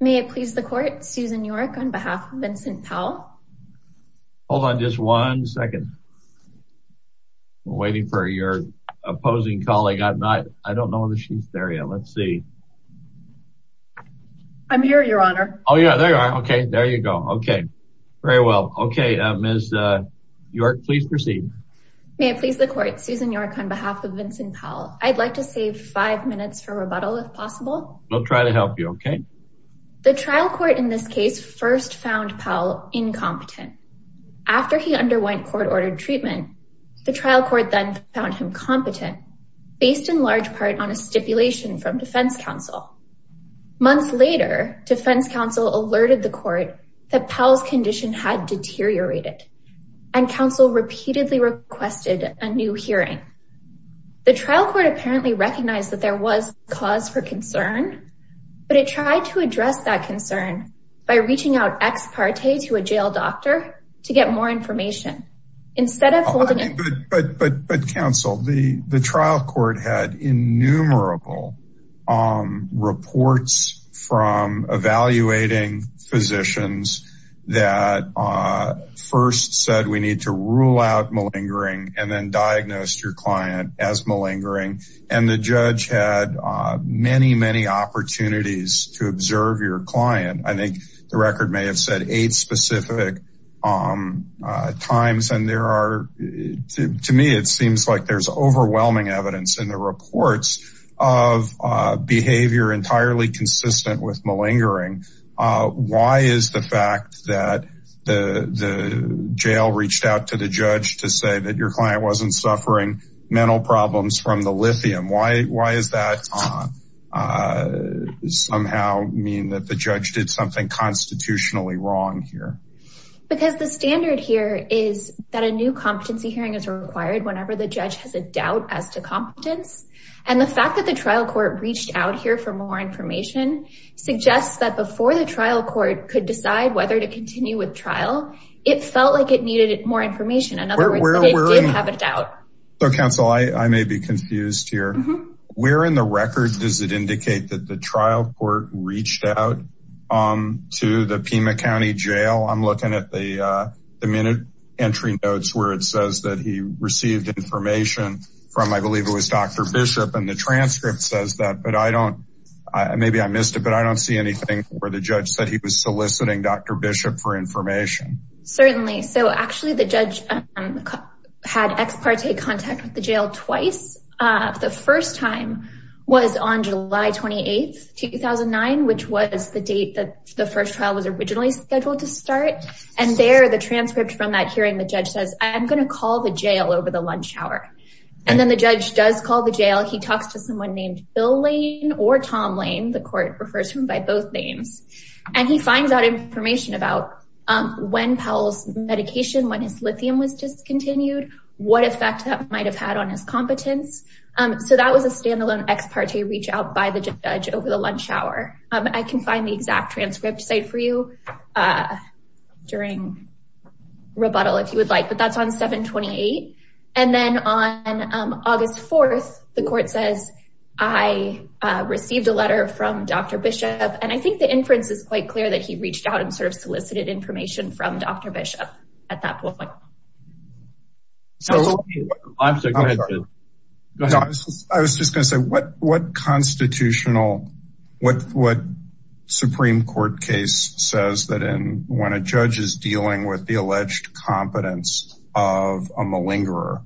May it please the court, Susan York on behalf of Vincent Powell. Hold on just one second. Waiting for your opposing colleague. I don't know if she's there yet. Let's see. I'm here, your honor. Oh yeah, there you are. Okay, there you go. Okay, very well. Okay, Ms. York, please proceed. May it please the court, Susan York on behalf of Vincent Powell. I'd like to save five minutes for rebuttal if possible. I'll try to help you, okay? The trial court in this case first found Powell incompetent. After he underwent court-ordered treatment, the trial court then found him competent, based in large part on a stipulation from defense counsel. Months later, defense counsel alerted the court that Powell's condition had deteriorated, and counsel repeatedly requested a new hearing. The trial court apparently recognized that there was cause for concern, but it tried to address that concern by reaching out ex parte to a jail doctor to get more information. Instead of holding it. But counsel, the trial court had innumerable reports from evaluating physicians that first said we need to rule out malingering, and then diagnosed your client as malingering, and the judge had many, many opportunities to observe your client. I think the record may have said eight specific times, and there are, to me, it seems like there's overwhelming evidence in the reports of behavior entirely consistent with malingering. Why is the fact that the jail reached out to the judge to say that your client wasn't suffering mental problems from the lithium? Why does that somehow mean that the judge did something constitutionally wrong here? Because the standard here is that a new competency hearing is required whenever the judge has a doubt as to competence, and the fact that the trial court reached out here for more information suggests that before the trial court could decide whether to continue with trial, it felt like it needed more information. In other words, it did have a doubt. So counsel, I may be confused here. Where in the record does it indicate that the trial court reached out to the Pima County Jail? I'm looking at the minute entry notes where it says that he received information from, I believe it was Dr. Bishop, and the transcript says that, but I don't, maybe I missed it, but I don't see anything where the judge said he was soliciting Dr. Bishop for information. Certainly. So actually the judge had ex parte contact with the jail twice. The first time was on July 28, 2009, which was the date that the first trial was originally scheduled to start. And there, the transcript from that hearing, the judge says, I'm going to call the jail over the lunch hour. And then the judge does call the jail. He talks to someone named Bill Lane or Tom Lane, the court refers to him by both names. And he finds out information about when Powell's medication, when his lithium was discontinued, what effect that might've had on his competence. So that was a standalone ex parte reach out by the judge over the lunch hour. I can find the exact transcript site for you during rebuttal, if you would like, but that's on 7-28. And then on Dr. Bishop. And I think the inference is quite clear that he reached out and sort of solicited information from Dr. Bishop at that point. I was just going to say what constitutional, what Supreme court case says that in, when a judge is dealing with the alleged competence of a malingerer,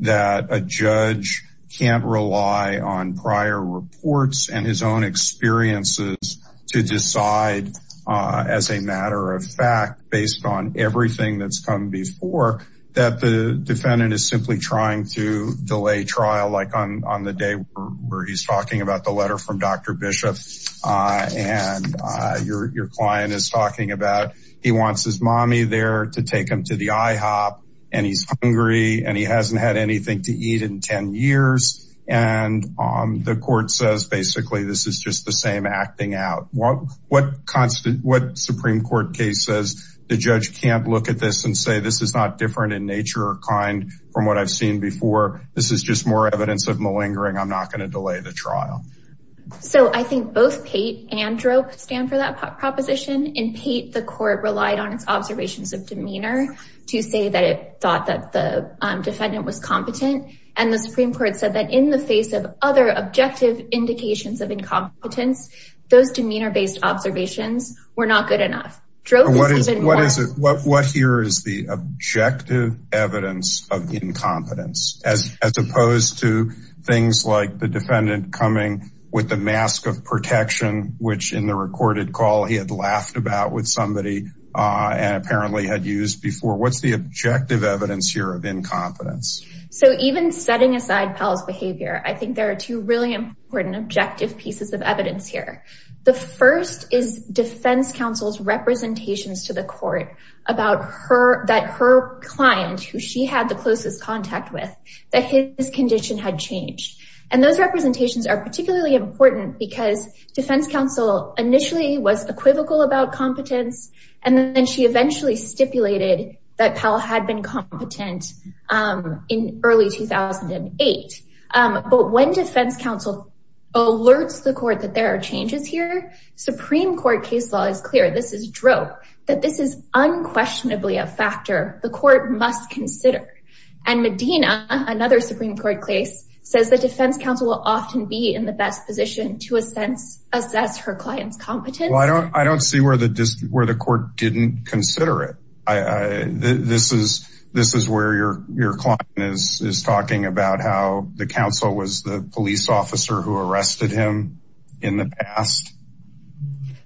that a judge can't rely on prior reports and his own experiences to decide as a matter of fact, based on everything that's come before that the defendant is simply trying to delay trial. Like on the day where he's talking about the letter from Dr. Bishop and your, your client is talking about, he wants his mommy there to take him to the IHOP and he's hungry and he hasn't had anything to eat in 10 years. And the court says, basically, this is just the same acting out what, what constant, what Supreme court case says, the judge can't look at this and say, this is not different in nature or kind from what I've seen before. This is just more evidence of malingering. I'm not going to delay the trial. So I think both Pate and DROPE stand for that proposition. In Pate, the court relied on its observations of demeanor to say that it thought that the defendant was competent. And the Supreme court said that in the face of other objective indications of incompetence, those demeanor based observations were not good enough. What is it? What, what here is the with the mask of protection, which in the recorded call he had laughed about with somebody and apparently had used before. What's the objective evidence here of incompetence? So even setting aside Powell's behavior, I think there are two really important objective pieces of evidence here. The first is defense counsel's representations to the court about her, that her client, who she had the closest contact with that his condition had changed. And those representations are particularly important because defense counsel initially was equivocal about competence. And then she eventually stipulated that Powell had been competent in early 2008. But when defense counsel alerts the court that there are changes here, Supreme court case law is clear. This is DROPE that this is unquestionably a factor the court must consider. And Medina, another Supreme court case says that defense counsel will often be in the best position to a sense, assess her client's competence. Well, I don't, I don't see where the, where the court didn't consider it. I, this is, this is where your, your client is, is talking about how the counsel was the police officer who arrested him in the past.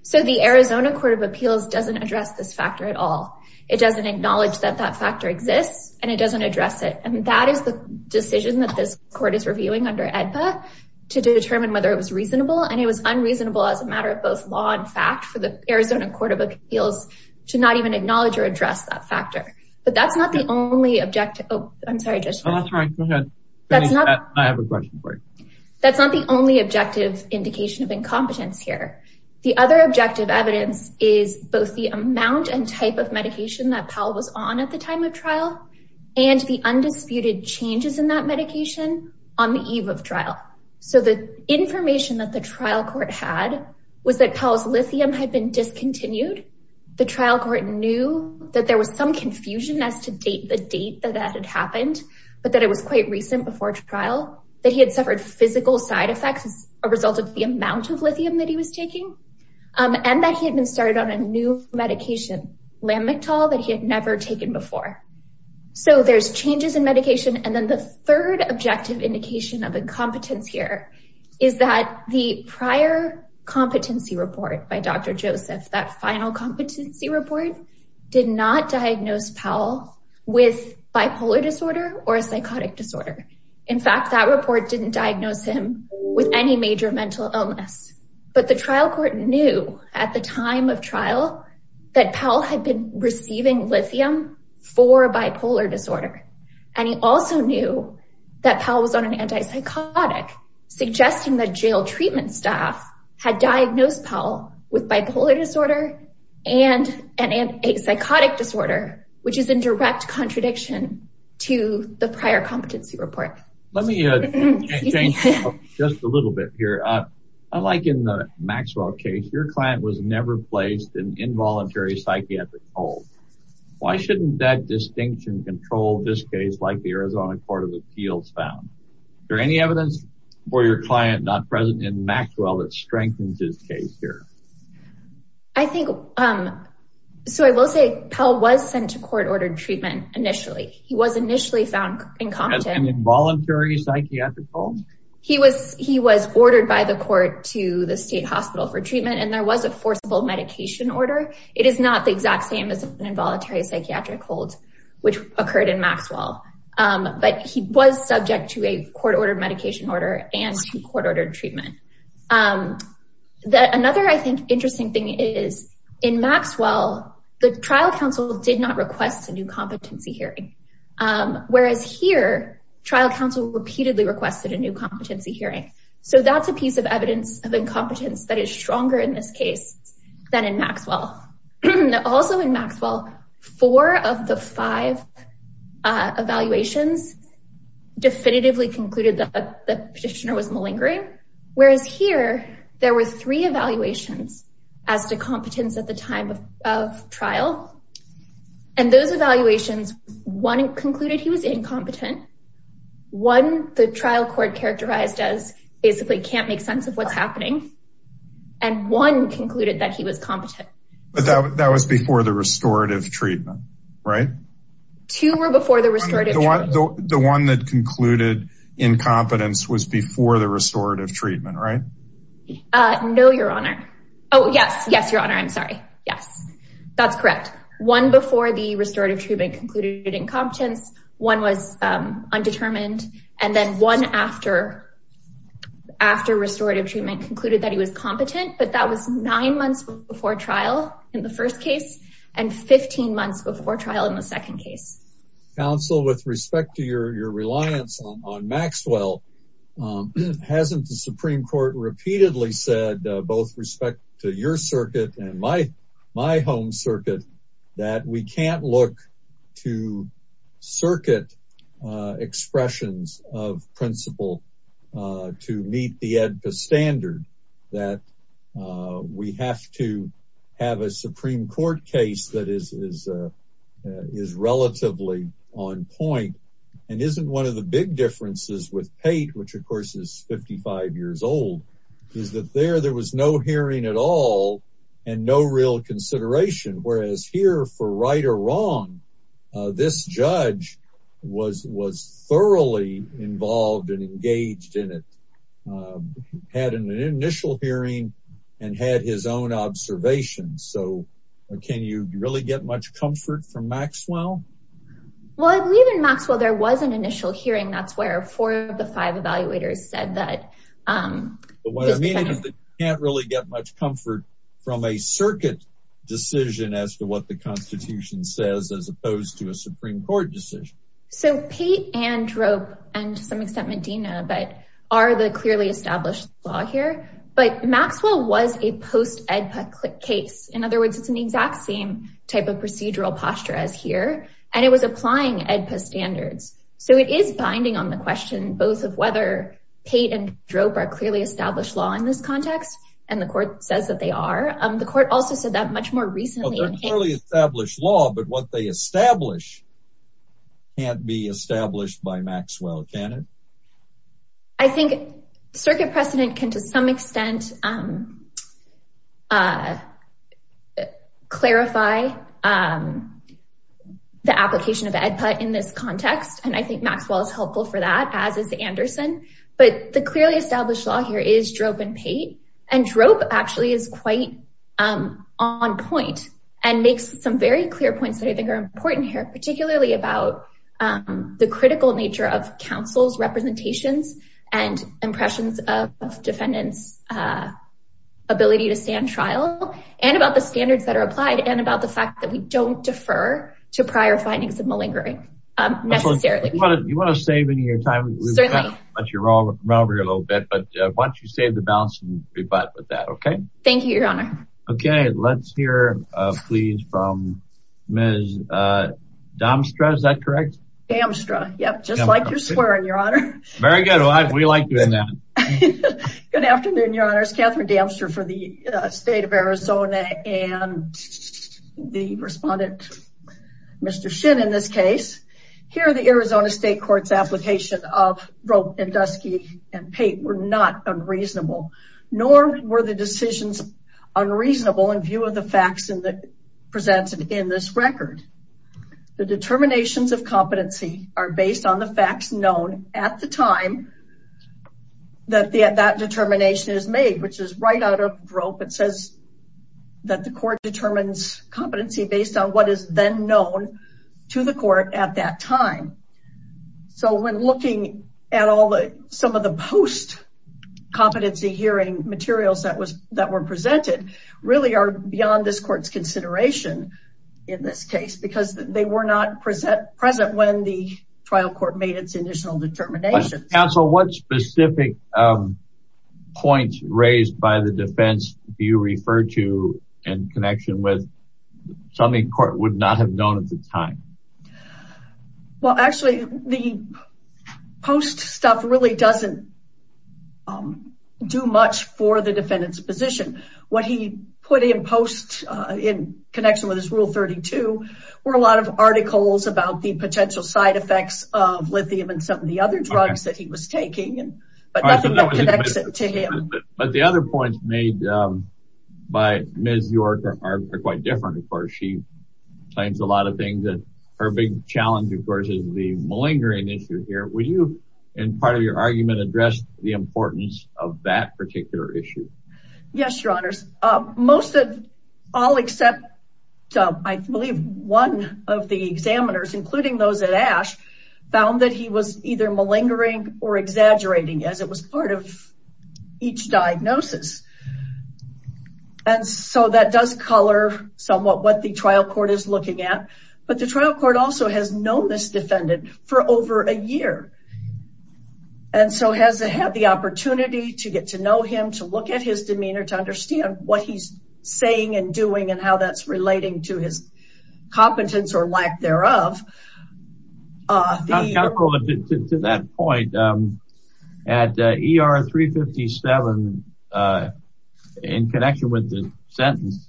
So the Arizona court of appeals doesn't address this factor at all. It doesn't acknowledge that that factor exists and it doesn't address it. And that is the decision that this court is reviewing under EDPA to determine whether it was reasonable. And it was unreasonable as a matter of both law and fact for the Arizona court of appeals to not even acknowledge or address that factor, but that's not the only objective. Oh, I'm sorry. That's not the only objective indication of incompetence here. The other objective evidence is both the amount and type of medication that Powell was on at the time of trial and the undisputed changes in that medication on the eve of trial. So the information that the trial court had was that Powell's lithium had been discontinued. The trial court knew that there was some confusion as to date the date that that had happened, but that it was quite recent before trial, that he had suffered physical side effects as a result of the amount of lithium that he was taking and that he had been started on a new medication, Lamictal, that he had never taken before. So there's changes in medication. And then the third objective indication of incompetence here is that the prior competency report by Dr. Joseph, that final competency report did not diagnose Powell with bipolar disorder or a psychotic disorder. In fact, that report didn't diagnose him with any major mental illness, but the trial court knew at the time of trial that Powell had been receiving lithium for bipolar disorder. And he also knew that Powell was on an antipsychotic, suggesting that jail treatment staff had diagnosed Powell with bipolar disorder and a psychotic disorder, which is in direct contradiction to the prior competency report. Let me change just a little bit here. Unlike in the Maxwell case, your client was never placed in involuntary psychiatric hold. Why shouldn't that distinction control this case like the Arizona Court of Appeals found? Is there any evidence for your client not present in Maxwell that strengthens his case here? I think, so I will say Powell was sent to court-ordered treatment initially. He was initially found incompetent. As an involuntary psychiatric hold? He was ordered by the court to the state hospital for treatment, and there was a forcible medication order. It is not the exact same as an involuntary psychiatric hold, which occurred in Maxwell. But he was subject to a court-ordered medication order and to court-ordered treatment. Another, I think, interesting thing is in Maxwell, the trial counsel did not request a new competency hearing. Whereas here, trial counsel repeatedly requested a new competency hearing. So that's a piece of evidence of incompetence that is stronger in this case than in Maxwell. Also in Maxwell, four of the five evaluations definitively concluded the petitioner was malingering. Whereas here, there were three evaluations as to competence at the time of trial. And those evaluations, one concluded he was incompetent, one the trial court characterized as basically can't make sense of what's happening, and one concluded that he was competent. But that was before the restorative treatment, right? Two were before the restorative The one that concluded incompetence was before the restorative treatment, right? No, your honor. Oh, yes, yes, your honor. I'm sorry. Yes, that's correct. One before the restorative treatment concluded incompetence, one was undetermined, and then one after restorative treatment concluded that he was competent, but that was nine months before trial in the second case. Counsel, with respect to your reliance on Maxwell, hasn't the Supreme Court repeatedly said, both respect to your circuit and my home circuit, that we can't look to circuit expressions of principle to meet the EDPA standard, that we have to have a Supreme Court case that is relatively on point, and isn't one of the big differences with Pate, which of course is 55 years old, is that there was no hearing at all, and no real consideration. Whereas here, for right or wrong, this judge was thoroughly involved and engaged in it. He had an initial hearing and had his own observations, so can you really get much comfort from Maxwell? Well, I believe in Maxwell there was an initial hearing. That's where four of the five evaluators said that. But what I mean is that you can't really get much comfort from a circuit decision as to what the Constitution says, as opposed to Supreme Court decision. So Pate and Drope, and to some extent Medina, but are the clearly established law here. But Maxwell was a post-EDPA case. In other words, it's an exact same type of procedural posture as here, and it was applying EDPA standards. So it is binding on the question, both of whether Pate and Drope are clearly established law in this context, and the court says that they are. The court also said that much more recently. They're clearly established law, but what they establish can't be established by Maxwell, can it? I think circuit precedent can, to some extent, clarify the application of EDPA in this context, and I think Maxwell is helpful for that, as is Anderson. But the clearly established law here is Drope and Pate, and Drope actually is quite on point and makes some very clear points that I think are important here, particularly about the critical nature of counsel's representations and impressions of defendants' ability to stand trial, and about the standards that are applied, and about the fact that we don't defer to prior findings of malingering, necessarily. You want to save any rebut with that, okay? Thank you, your honor. Okay, let's hear, please, from Ms. Damstra, is that correct? Damstra, yep, just like you're swearing, your honor. Very good, we like doing that. Good afternoon, your honors. Catherine Damstra for the state of Arizona, and the respondent, Mr. Shin, in this case. Here, the Arizona State Court's application of Drope and Dusky and Pate were not unreasonable, nor were the decisions unreasonable in view of the facts presented in this record. The determinations of competency are based on the facts known at the time that that determination is made, which is right out of Drope. It says that the court determines competency based on what is then known to the court at that time. So, when looking at some of the post-competency hearing materials that were presented, really are beyond this court's consideration in this case, because they were not present when the trial court made its initial determinations. Counsel, what specific points raised by the defense do you refer to in connection with something the court would not have known at the time? Well, actually, the post stuff really doesn't do much for the defendant's position. What he put in post in connection with his Rule 32 were a lot of articles about the potential side effects of lithium and some of the other drugs that he was taking, but nothing that connects it to him. But the other points made by Ms. York are quite different. Of course, she her big challenge is the malingering issue here. Would you, in part of your argument, address the importance of that particular issue? Yes, Your Honors. Most of, all except, I believe one of the examiners, including those at ASH, found that he was either malingering or exaggerating as it was part of each diagnosis. And so, that does color somewhat what the trial court is looking at. But the trial court also has known this defendant for over a year. And so, has it had the opportunity to get to know him, to look at his demeanor, to understand what he's saying and doing and how that's relating to his competence or lack thereof. Counsel, to that point, at ER 357, in connection with the sentence,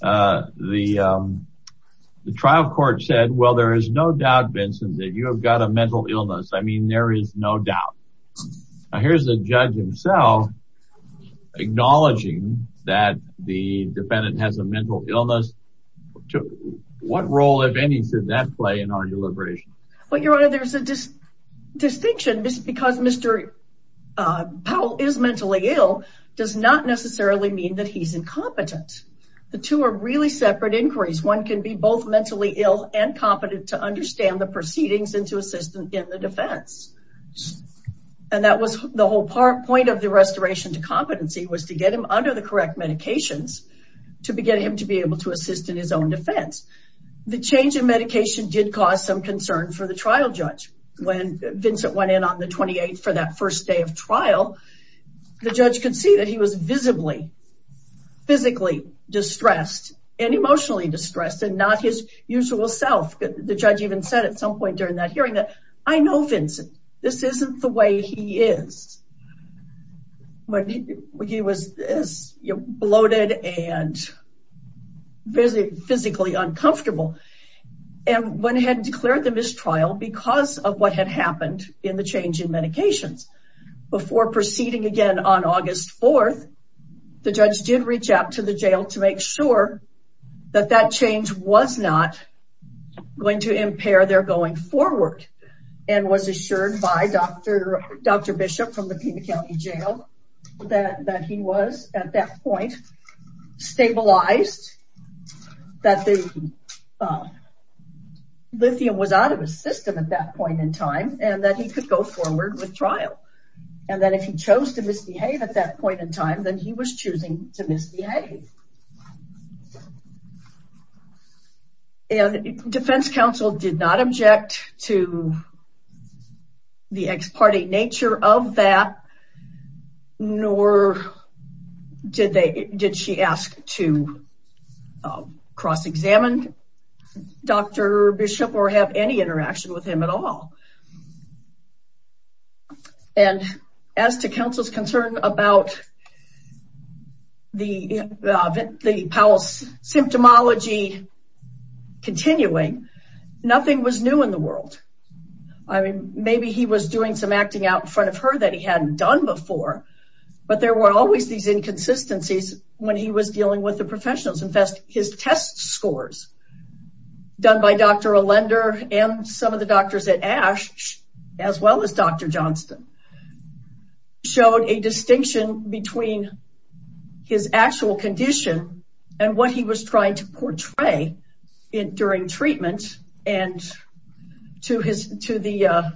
the trial court said, well, there is no doubt, Vincent, that you have got a mental illness. I mean, there is no doubt. Now, here's the judge himself acknowledging that the defendant has a mental illness. What role, if any, should that play in our deliberation? Well, Your Honor, there's a distinction because Mr. Powell is mentally ill, does not necessarily mean that he's incompetent. The two are really separate inquiries. One can be both mentally ill and competent to understand the proceedings and to assist in the defense. And that was the whole point of the restoration to competency, was to get him under the correct medications to begin him to be able to assist in his own defense. The change in medication did cause some concern for the trial judge. When Vincent went in on the 28th for that first day of trial, the judge could see that he was visibly, physically distressed and emotionally distressed and not his usual self. The judge even said at some point during that hearing that, I know Vincent, this isn't the way he is. He was bloated and physically uncomfortable. And when he had declared the mistrial because of what had happened in the change in medications before proceeding again on August 4th, the judge did reach out to the jail to make sure that that change was not going to impair their going forward and was assured by Dr. Bishop from the Pima County Jail that he was at that point stabilized, that the lithium was out of his system at that point in time and that he could go forward with trial. And that if he chose to misbehave at that point in time, then he was choosing to misbehave. And defense counsel did not object to the ex parte nature of that, nor did she ask to cross-examine Dr. Bishop or have any concern about the Powell's symptomology continuing. Nothing was new in the world. I mean, maybe he was doing some acting out in front of her that he hadn't done before, but there were always these inconsistencies when he was dealing with the professionals. In fact, his test scores done by Dr. Alender and some of the doctors at Ashe, as well as Dr. Johnston, showed a distinction between his actual condition and what he was trying to portray during treatment and to the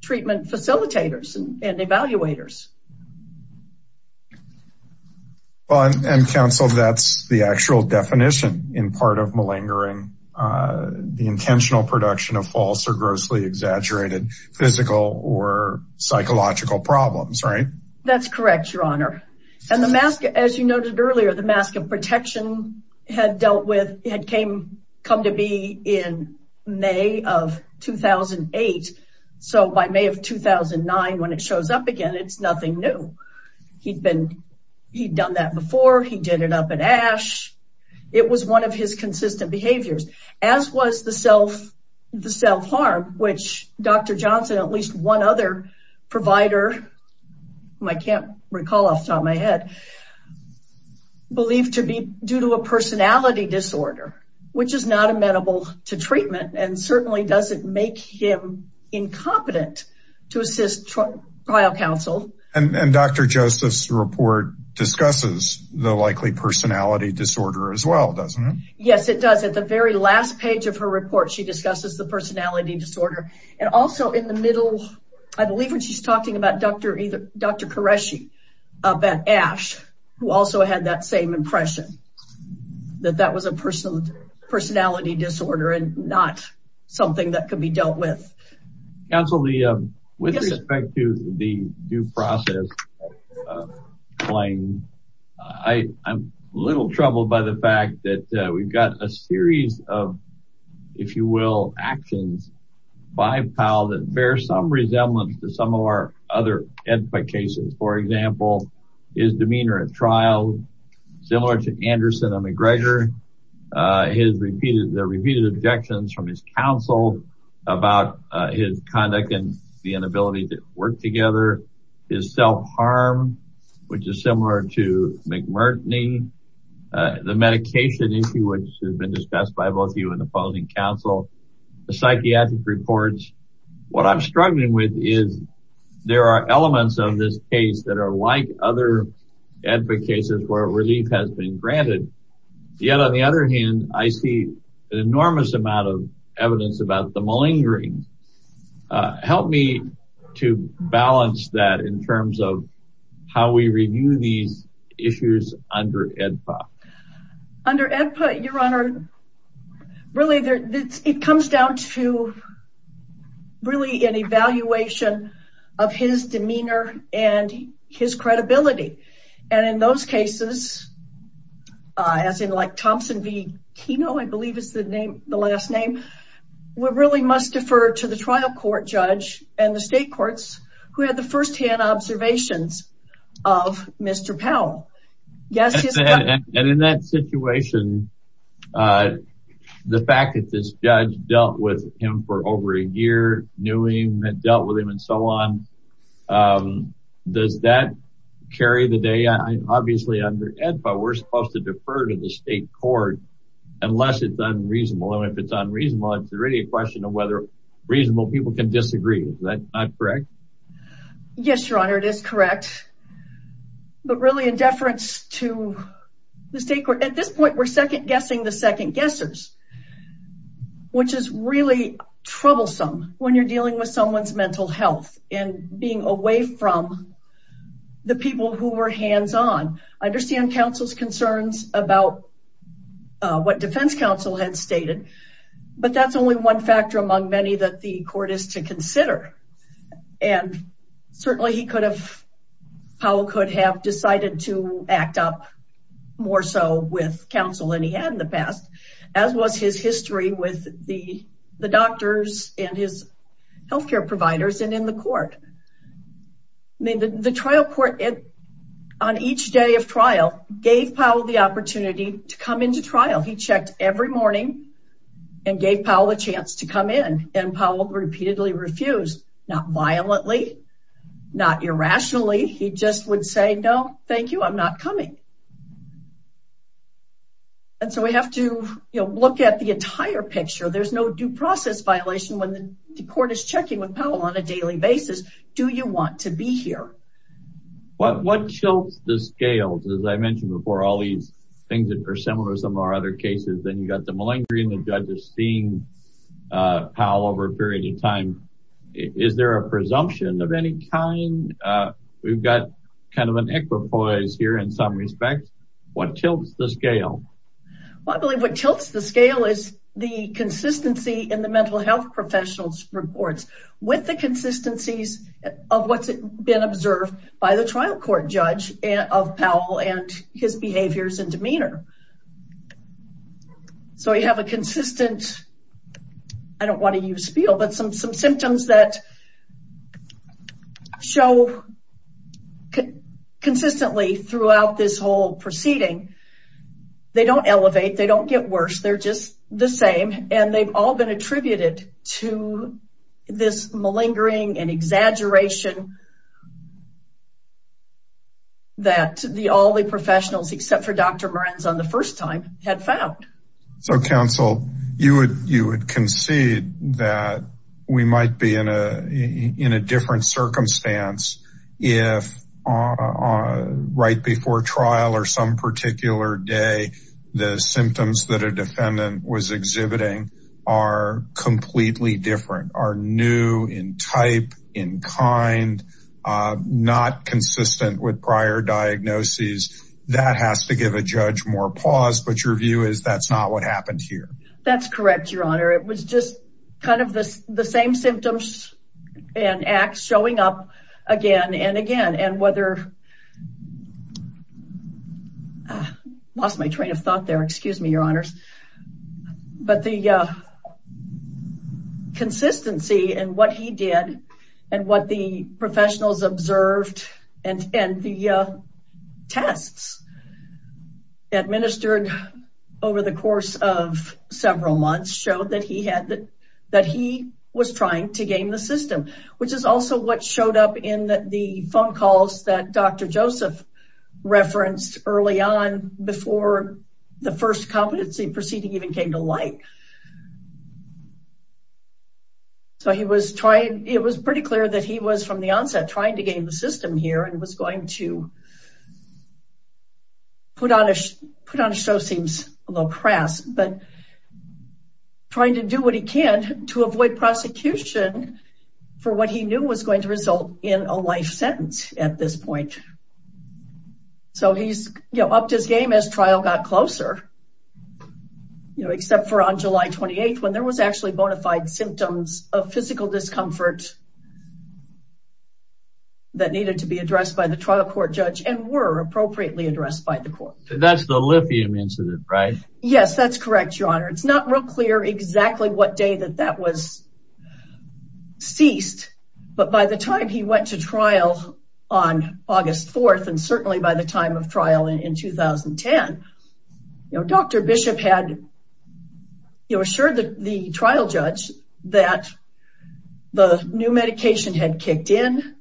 treatment facilitators and evaluators. And counsel, that's the actual definition in part of malingering, uh, the intentional production of false or grossly exaggerated physical or psychological problems, right? That's correct, your honor. And the mask, as you noted earlier, the mask of protection had dealt with, had came, come to be in May of 2008. So by May of 2009, when it shows up again, it's nothing new. He'd been, he'd done that before. He did it up at Ashe. It was one of his consistent behaviors as was the self, the self-harm, which Dr. Johnson, at least one other provider, I can't recall off the top of my head, believed to be due to a personality disorder, which is not amenable to treatment and certainly doesn't make him incompetent to assist trial counsel. And Dr. Joseph's report discusses the likely personality disorder as well, doesn't it? Yes, it does. At the very last page of her report, she discusses the personality disorder. And also in the middle, I believe when she's talking about Dr. Koreshi up at Ashe, who also had that same impression that that was a personal personality disorder and not something that could be dealt with. Counsel, with respect to the due process claim, I'm a little troubled by the fact that we've got a series of, if you will, actions by Powell that bear some resemblance to some of our other cases. For example, his demeanor at trial, similar to Anderson and McGregor, his repeated, the repeated objections from his counsel about his conduct and the inability to work together, his self-harm, which is similar to McMurtney, the medication issue, which has been discussed by both of you in the following counsel, the psychiatric reports. What I'm struggling with is there are elements of this case that are like other advocate cases where relief has been granted. Yet on the other hand, I see an enormous amount of evidence about the malingering. Help me to balance that in terms of how we review these issues under AEDPA. Under AEDPA, your honor, really it comes down to really an evaluation of his demeanor and his credibility. And in those cases, as in like Thompson v. Kino, I believe is the name, the last to the trial court judge and the state courts who had the firsthand observations of Mr. Powell. And in that situation, the fact that this judge dealt with him for over a year, knew him and dealt with him and so on, does that carry the day? Obviously under AEDPA, we're supposed to defer to the state court unless it's unreasonable. And if it's unreasonable, is there any question of whether reasonable people can disagree? Is that not correct? Yes, your honor, it is correct. But really in deference to the state court, at this point, we're second guessing the second guessers, which is really troublesome when you're dealing with someone's mental health and being away from the people who were hands-on. I understand counsel's stated, but that's only one factor among many that the court is to consider. And certainly, Powell could have decided to act up more so with counsel than he had in the past, as was his history with the doctors and his healthcare providers and in the court. The trial court, on each day of trial, gave Powell the opportunity to come into trial. He gave Powell a chance to come in and Powell repeatedly refused, not violently, not irrationally. He just would say, no, thank you, I'm not coming. And so we have to look at the entire picture. There's no due process violation when the court is checking with Powell on a daily basis. Do you want to be here? What chokes the scales? As I mentioned before, all these things that are similar to some of our cases, then you've got the malingering, the judge is seeing Powell over a period of time. Is there a presumption of any kind? We've got kind of an equipoise here in some respects. What tilts the scale? Well, I believe what tilts the scale is the consistency in the mental health professionals' reports with the consistencies of what's been observed by the trial court judge of Powell and his behaviors and demeanor. So we have a consistent, I don't want to use spiel, but some symptoms that show consistently throughout this whole proceeding. They don't elevate, they don't get worse, they're just the same. And they've all been attributed to this malingering and exaggeration that all the professionals, except for Dr. Morenzon the first time, had found. So counsel, you would concede that we might be in a different circumstance if right before trial or some particular day, the symptoms that a defendant was exhibiting are completely different, are new in type, in kind, not consistent with prior diagnoses. That has to give a judge more pause, but your view is that's not what happened here. That's correct, your honor. It was just kind of the same symptoms and acts showing up again and whether, lost my train of thought there, excuse me, your honors. But the consistency in what he did and what the professionals observed and the tests administered over the course of several months showed that he was trying to game the system, which is also what showed up in the phone calls that Dr. Joseph referenced early on before the first competency proceeding even came to light. So he was trying, it was pretty clear that he was from the onset trying to game the system here and was going to put on a show, seems a little crass, but trying to do what he can to avoid prosecution for what he knew was going to result in a life sentence at this point. So he's, you know, upped his game as trial got closer, you know, except for on July 28th when there was actually bona fide symptoms of physical discomfort that needed to be addressed by the trial court judge and were appropriately addressed by the court. That's the lithium incident, right? Yes, that's correct, your honor. It's not real clear exactly what day that that was ceased, but by the time he went to trial on August 4th, and certainly by the time of trial in 2010, you know, Dr. Bishop had assured the trial judge that the new medication had kicked in,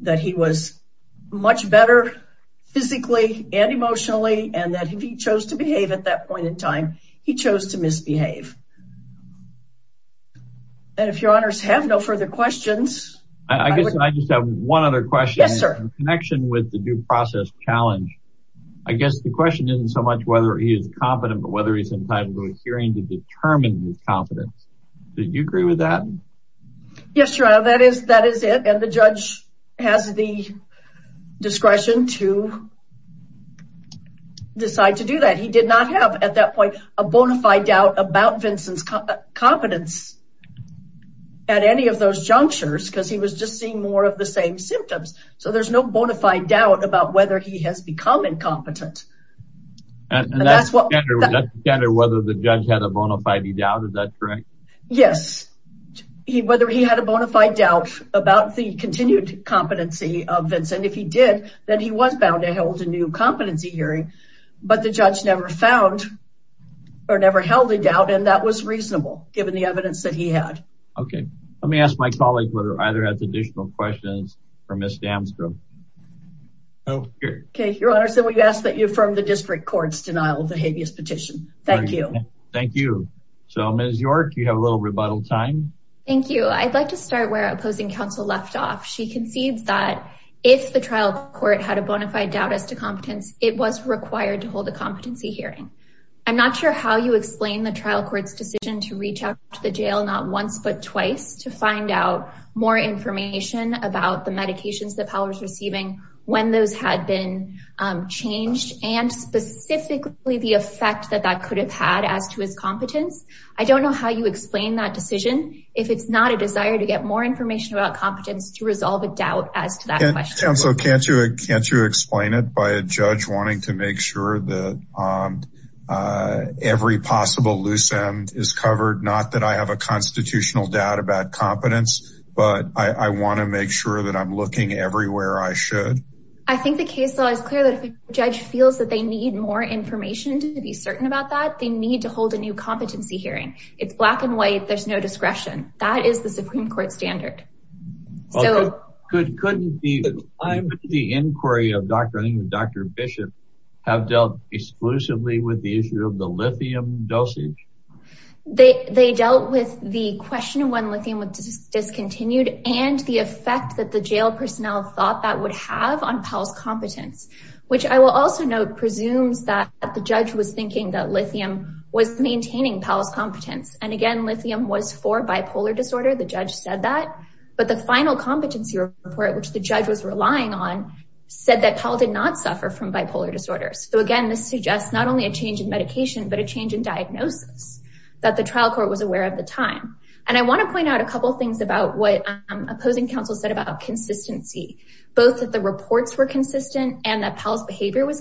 that he was much better physically and emotionally, and that if he chose to behave at that point in time, he chose to misbehave. And if your honors have no further questions. I guess I just have one other question. Yes, sir. Connection with the due process challenge. I guess the question isn't so much whether he is competent, but whether he's entitled to a hearing to determine his competence. Do you agree with that? Yes, your honor. That is it. And the judge has the discretion to decide to do that. He did not have, at that point, a bona fide doubt about Vincent's competence at any of those junctures, because he was just seeing more of the same symptoms. So there's no bona fide doubt about whether he has become incompetent. And that's the standard, whether the judge had a bona fide doubt. Is that correct? Yes. Whether he had a bona fide doubt about the continued competency of Vincent. If he did, then he was bound to hold a new competency hearing. But the judge never found, or never held a doubt, and that was reasonable, given the evidence that he had. Okay. Let me ask my colleague whether either has additional questions for Ms. Damsgrove. Okay, your honor. So we ask that you affirm the district court's denial of the habeas petition. Thank you. Thank you. So Ms. York, you have a little rebuttal time. Thank you. I'd like to start where opposing counsel left off. She concedes that if the trial court had a bona fide doubt as to competence, it was required to hold a competency hearing. I'm not sure how you explain the trial court's decision to reach out to the jail not once but twice to find out more information about the medications that Powell was receiving, when those had been changed, and specifically the effect that that could have had as to his competence. I don't know how you explain that decision, if it's not a desire to get more information. Counsel, can't you explain it by a judge wanting to make sure that every possible loose end is covered? Not that I have a constitutional doubt about competence, but I want to make sure that I'm looking everywhere I should. I think the case law is clear that if a judge feels that they need more information to be certain about that, they need to hold a new competency hearing. It's black and white. There's no discretion. That is the Supreme Court standard. Couldn't the inquiry of Dr. Bishop have dealt exclusively with the issue of the lithium dosage? They dealt with the question of when lithium was discontinued and the effect that the jail personnel thought that would have on Powell's competence, which I will also note presumes that the judge was thinking that lithium was maintaining Powell's competence. Again, lithium was for bipolar disorder. The judge said that, but the final competency report, which the judge was relying on, said that Powell did not suffer from bipolar disorders. Again, this suggests not only a change in medication, but a change in diagnosis that the trial court was aware of at the time. I want to point out a couple of things about what opposing counsel said about consistency, both that the reports were consistent and that Powell's behavior was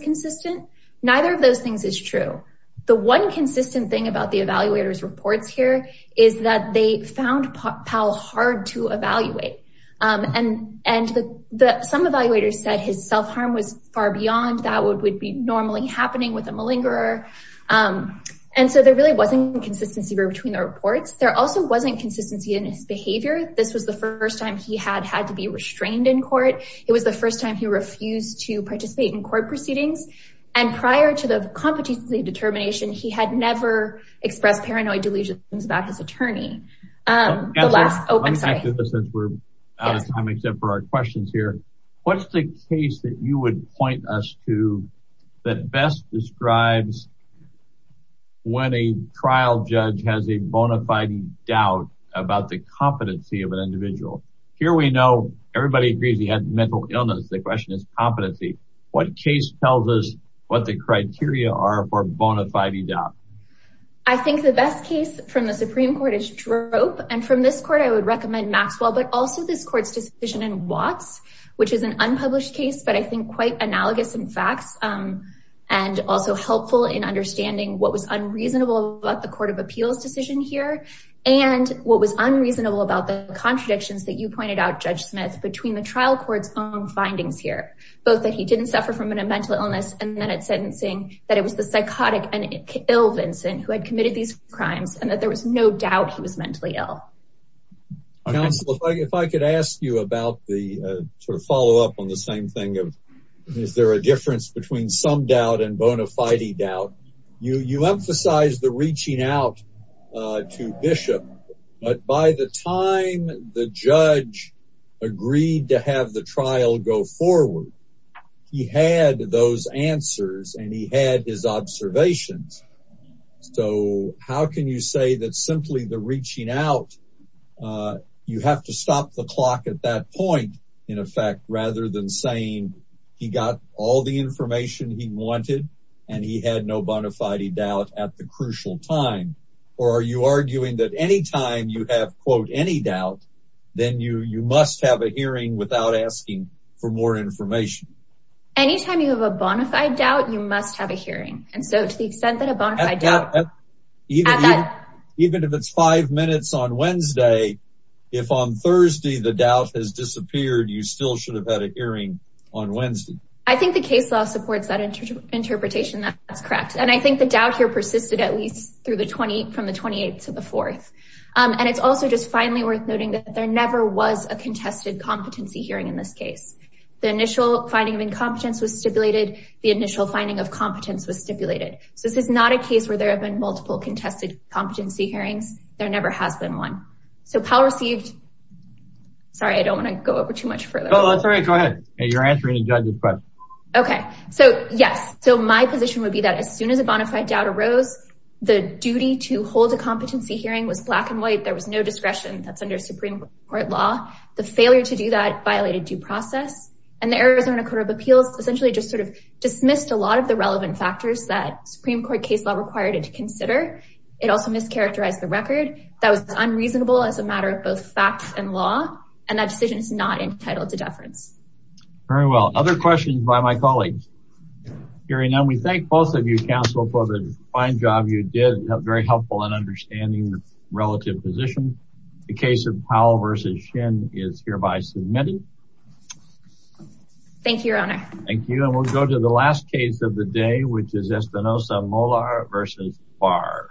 true. The one consistent thing about the evaluator's reports here is that they found Powell hard to evaluate. Some evaluators said his self-harm was far beyond what would be normally happening with a malingerer. There really wasn't consistency between the reports. There also wasn't consistency in his behavior. This was the first time he had had to be restrained in court. It was first time he refused to participate in court proceedings. Prior to the competency determination, he had never expressed paranoid delusions about his attorney. What's the case that you would point us to that best describes when a trial judge has a bona fide doubt about the competency of an individual? Here we know everybody agrees he had mental illness. The question is competency. What case tells us what the criteria are for bona fide doubt? I think the best case from the Supreme Court is Droop. And from this court, I would recommend Maxwell, but also this court's decision in Watts, which is an unpublished case, but I think quite analogous in facts and also helpful in understanding what was unreasonable about the court of appeals decision here and what was unreasonable about the contradictions that you pointed out, Judge Smith, between the trial court's own findings here, both that he didn't suffer from a mental illness and then at sentencing that it was the psychotic and ill Vincent who had committed these crimes and that there was no doubt he was mentally ill. Counsel, if I could ask you about the sort of follow-up on the same thing of is there a difference between some doubt and bona fide doubt? You emphasize the reaching out to Bishop, but by the time the judge agreed to have the trial go forward, he had those answers and he had his observations. So how can you say that simply the reaching out, you have to stop the clock at that point in effect, rather than saying he got all the doubt at the crucial time, or are you arguing that anytime you have quote any doubt, then you must have a hearing without asking for more information. Anytime you have a bona fide doubt, you must have a hearing. And so to the extent that a bona fide doubt, even if it's five minutes on Wednesday, if on Thursday, the doubt has disappeared, you still should have had a correct. And I think the doubt here persisted at least from the 28th to the 4th. And it's also just finally worth noting that there never was a contested competency hearing in this case. The initial finding of incompetence was stipulated. The initial finding of competence was stipulated. So this is not a case where there have been multiple contested competency hearings. There never has been one. So Powell received, sorry, I don't want to go over too much further. Oh, that's all right. Go ahead. You're answering the judge's question. Okay. So yes. So my position would be that as soon as a bona fide doubt arose, the duty to hold a competency hearing was black and white. There was no discretion that's under Supreme Court law. The failure to do that violated due process. And the Arizona Court of Appeals essentially just sort of dismissed a lot of the relevant factors that Supreme Court case law required it to consider. It also mischaracterized the record that was unreasonable as a matter of both facts and law. And that decision is not entitled to deference. Very well. Other questions by my colleagues? Hearing none, we thank both of you, counsel, for the fine job you did. Very helpful in understanding the relative position. The case of Powell versus Shin is hereby submitted. Thank you, your honor. Thank you. And we'll go to the last case of the day, which is Espinosa-Molar versus Barr.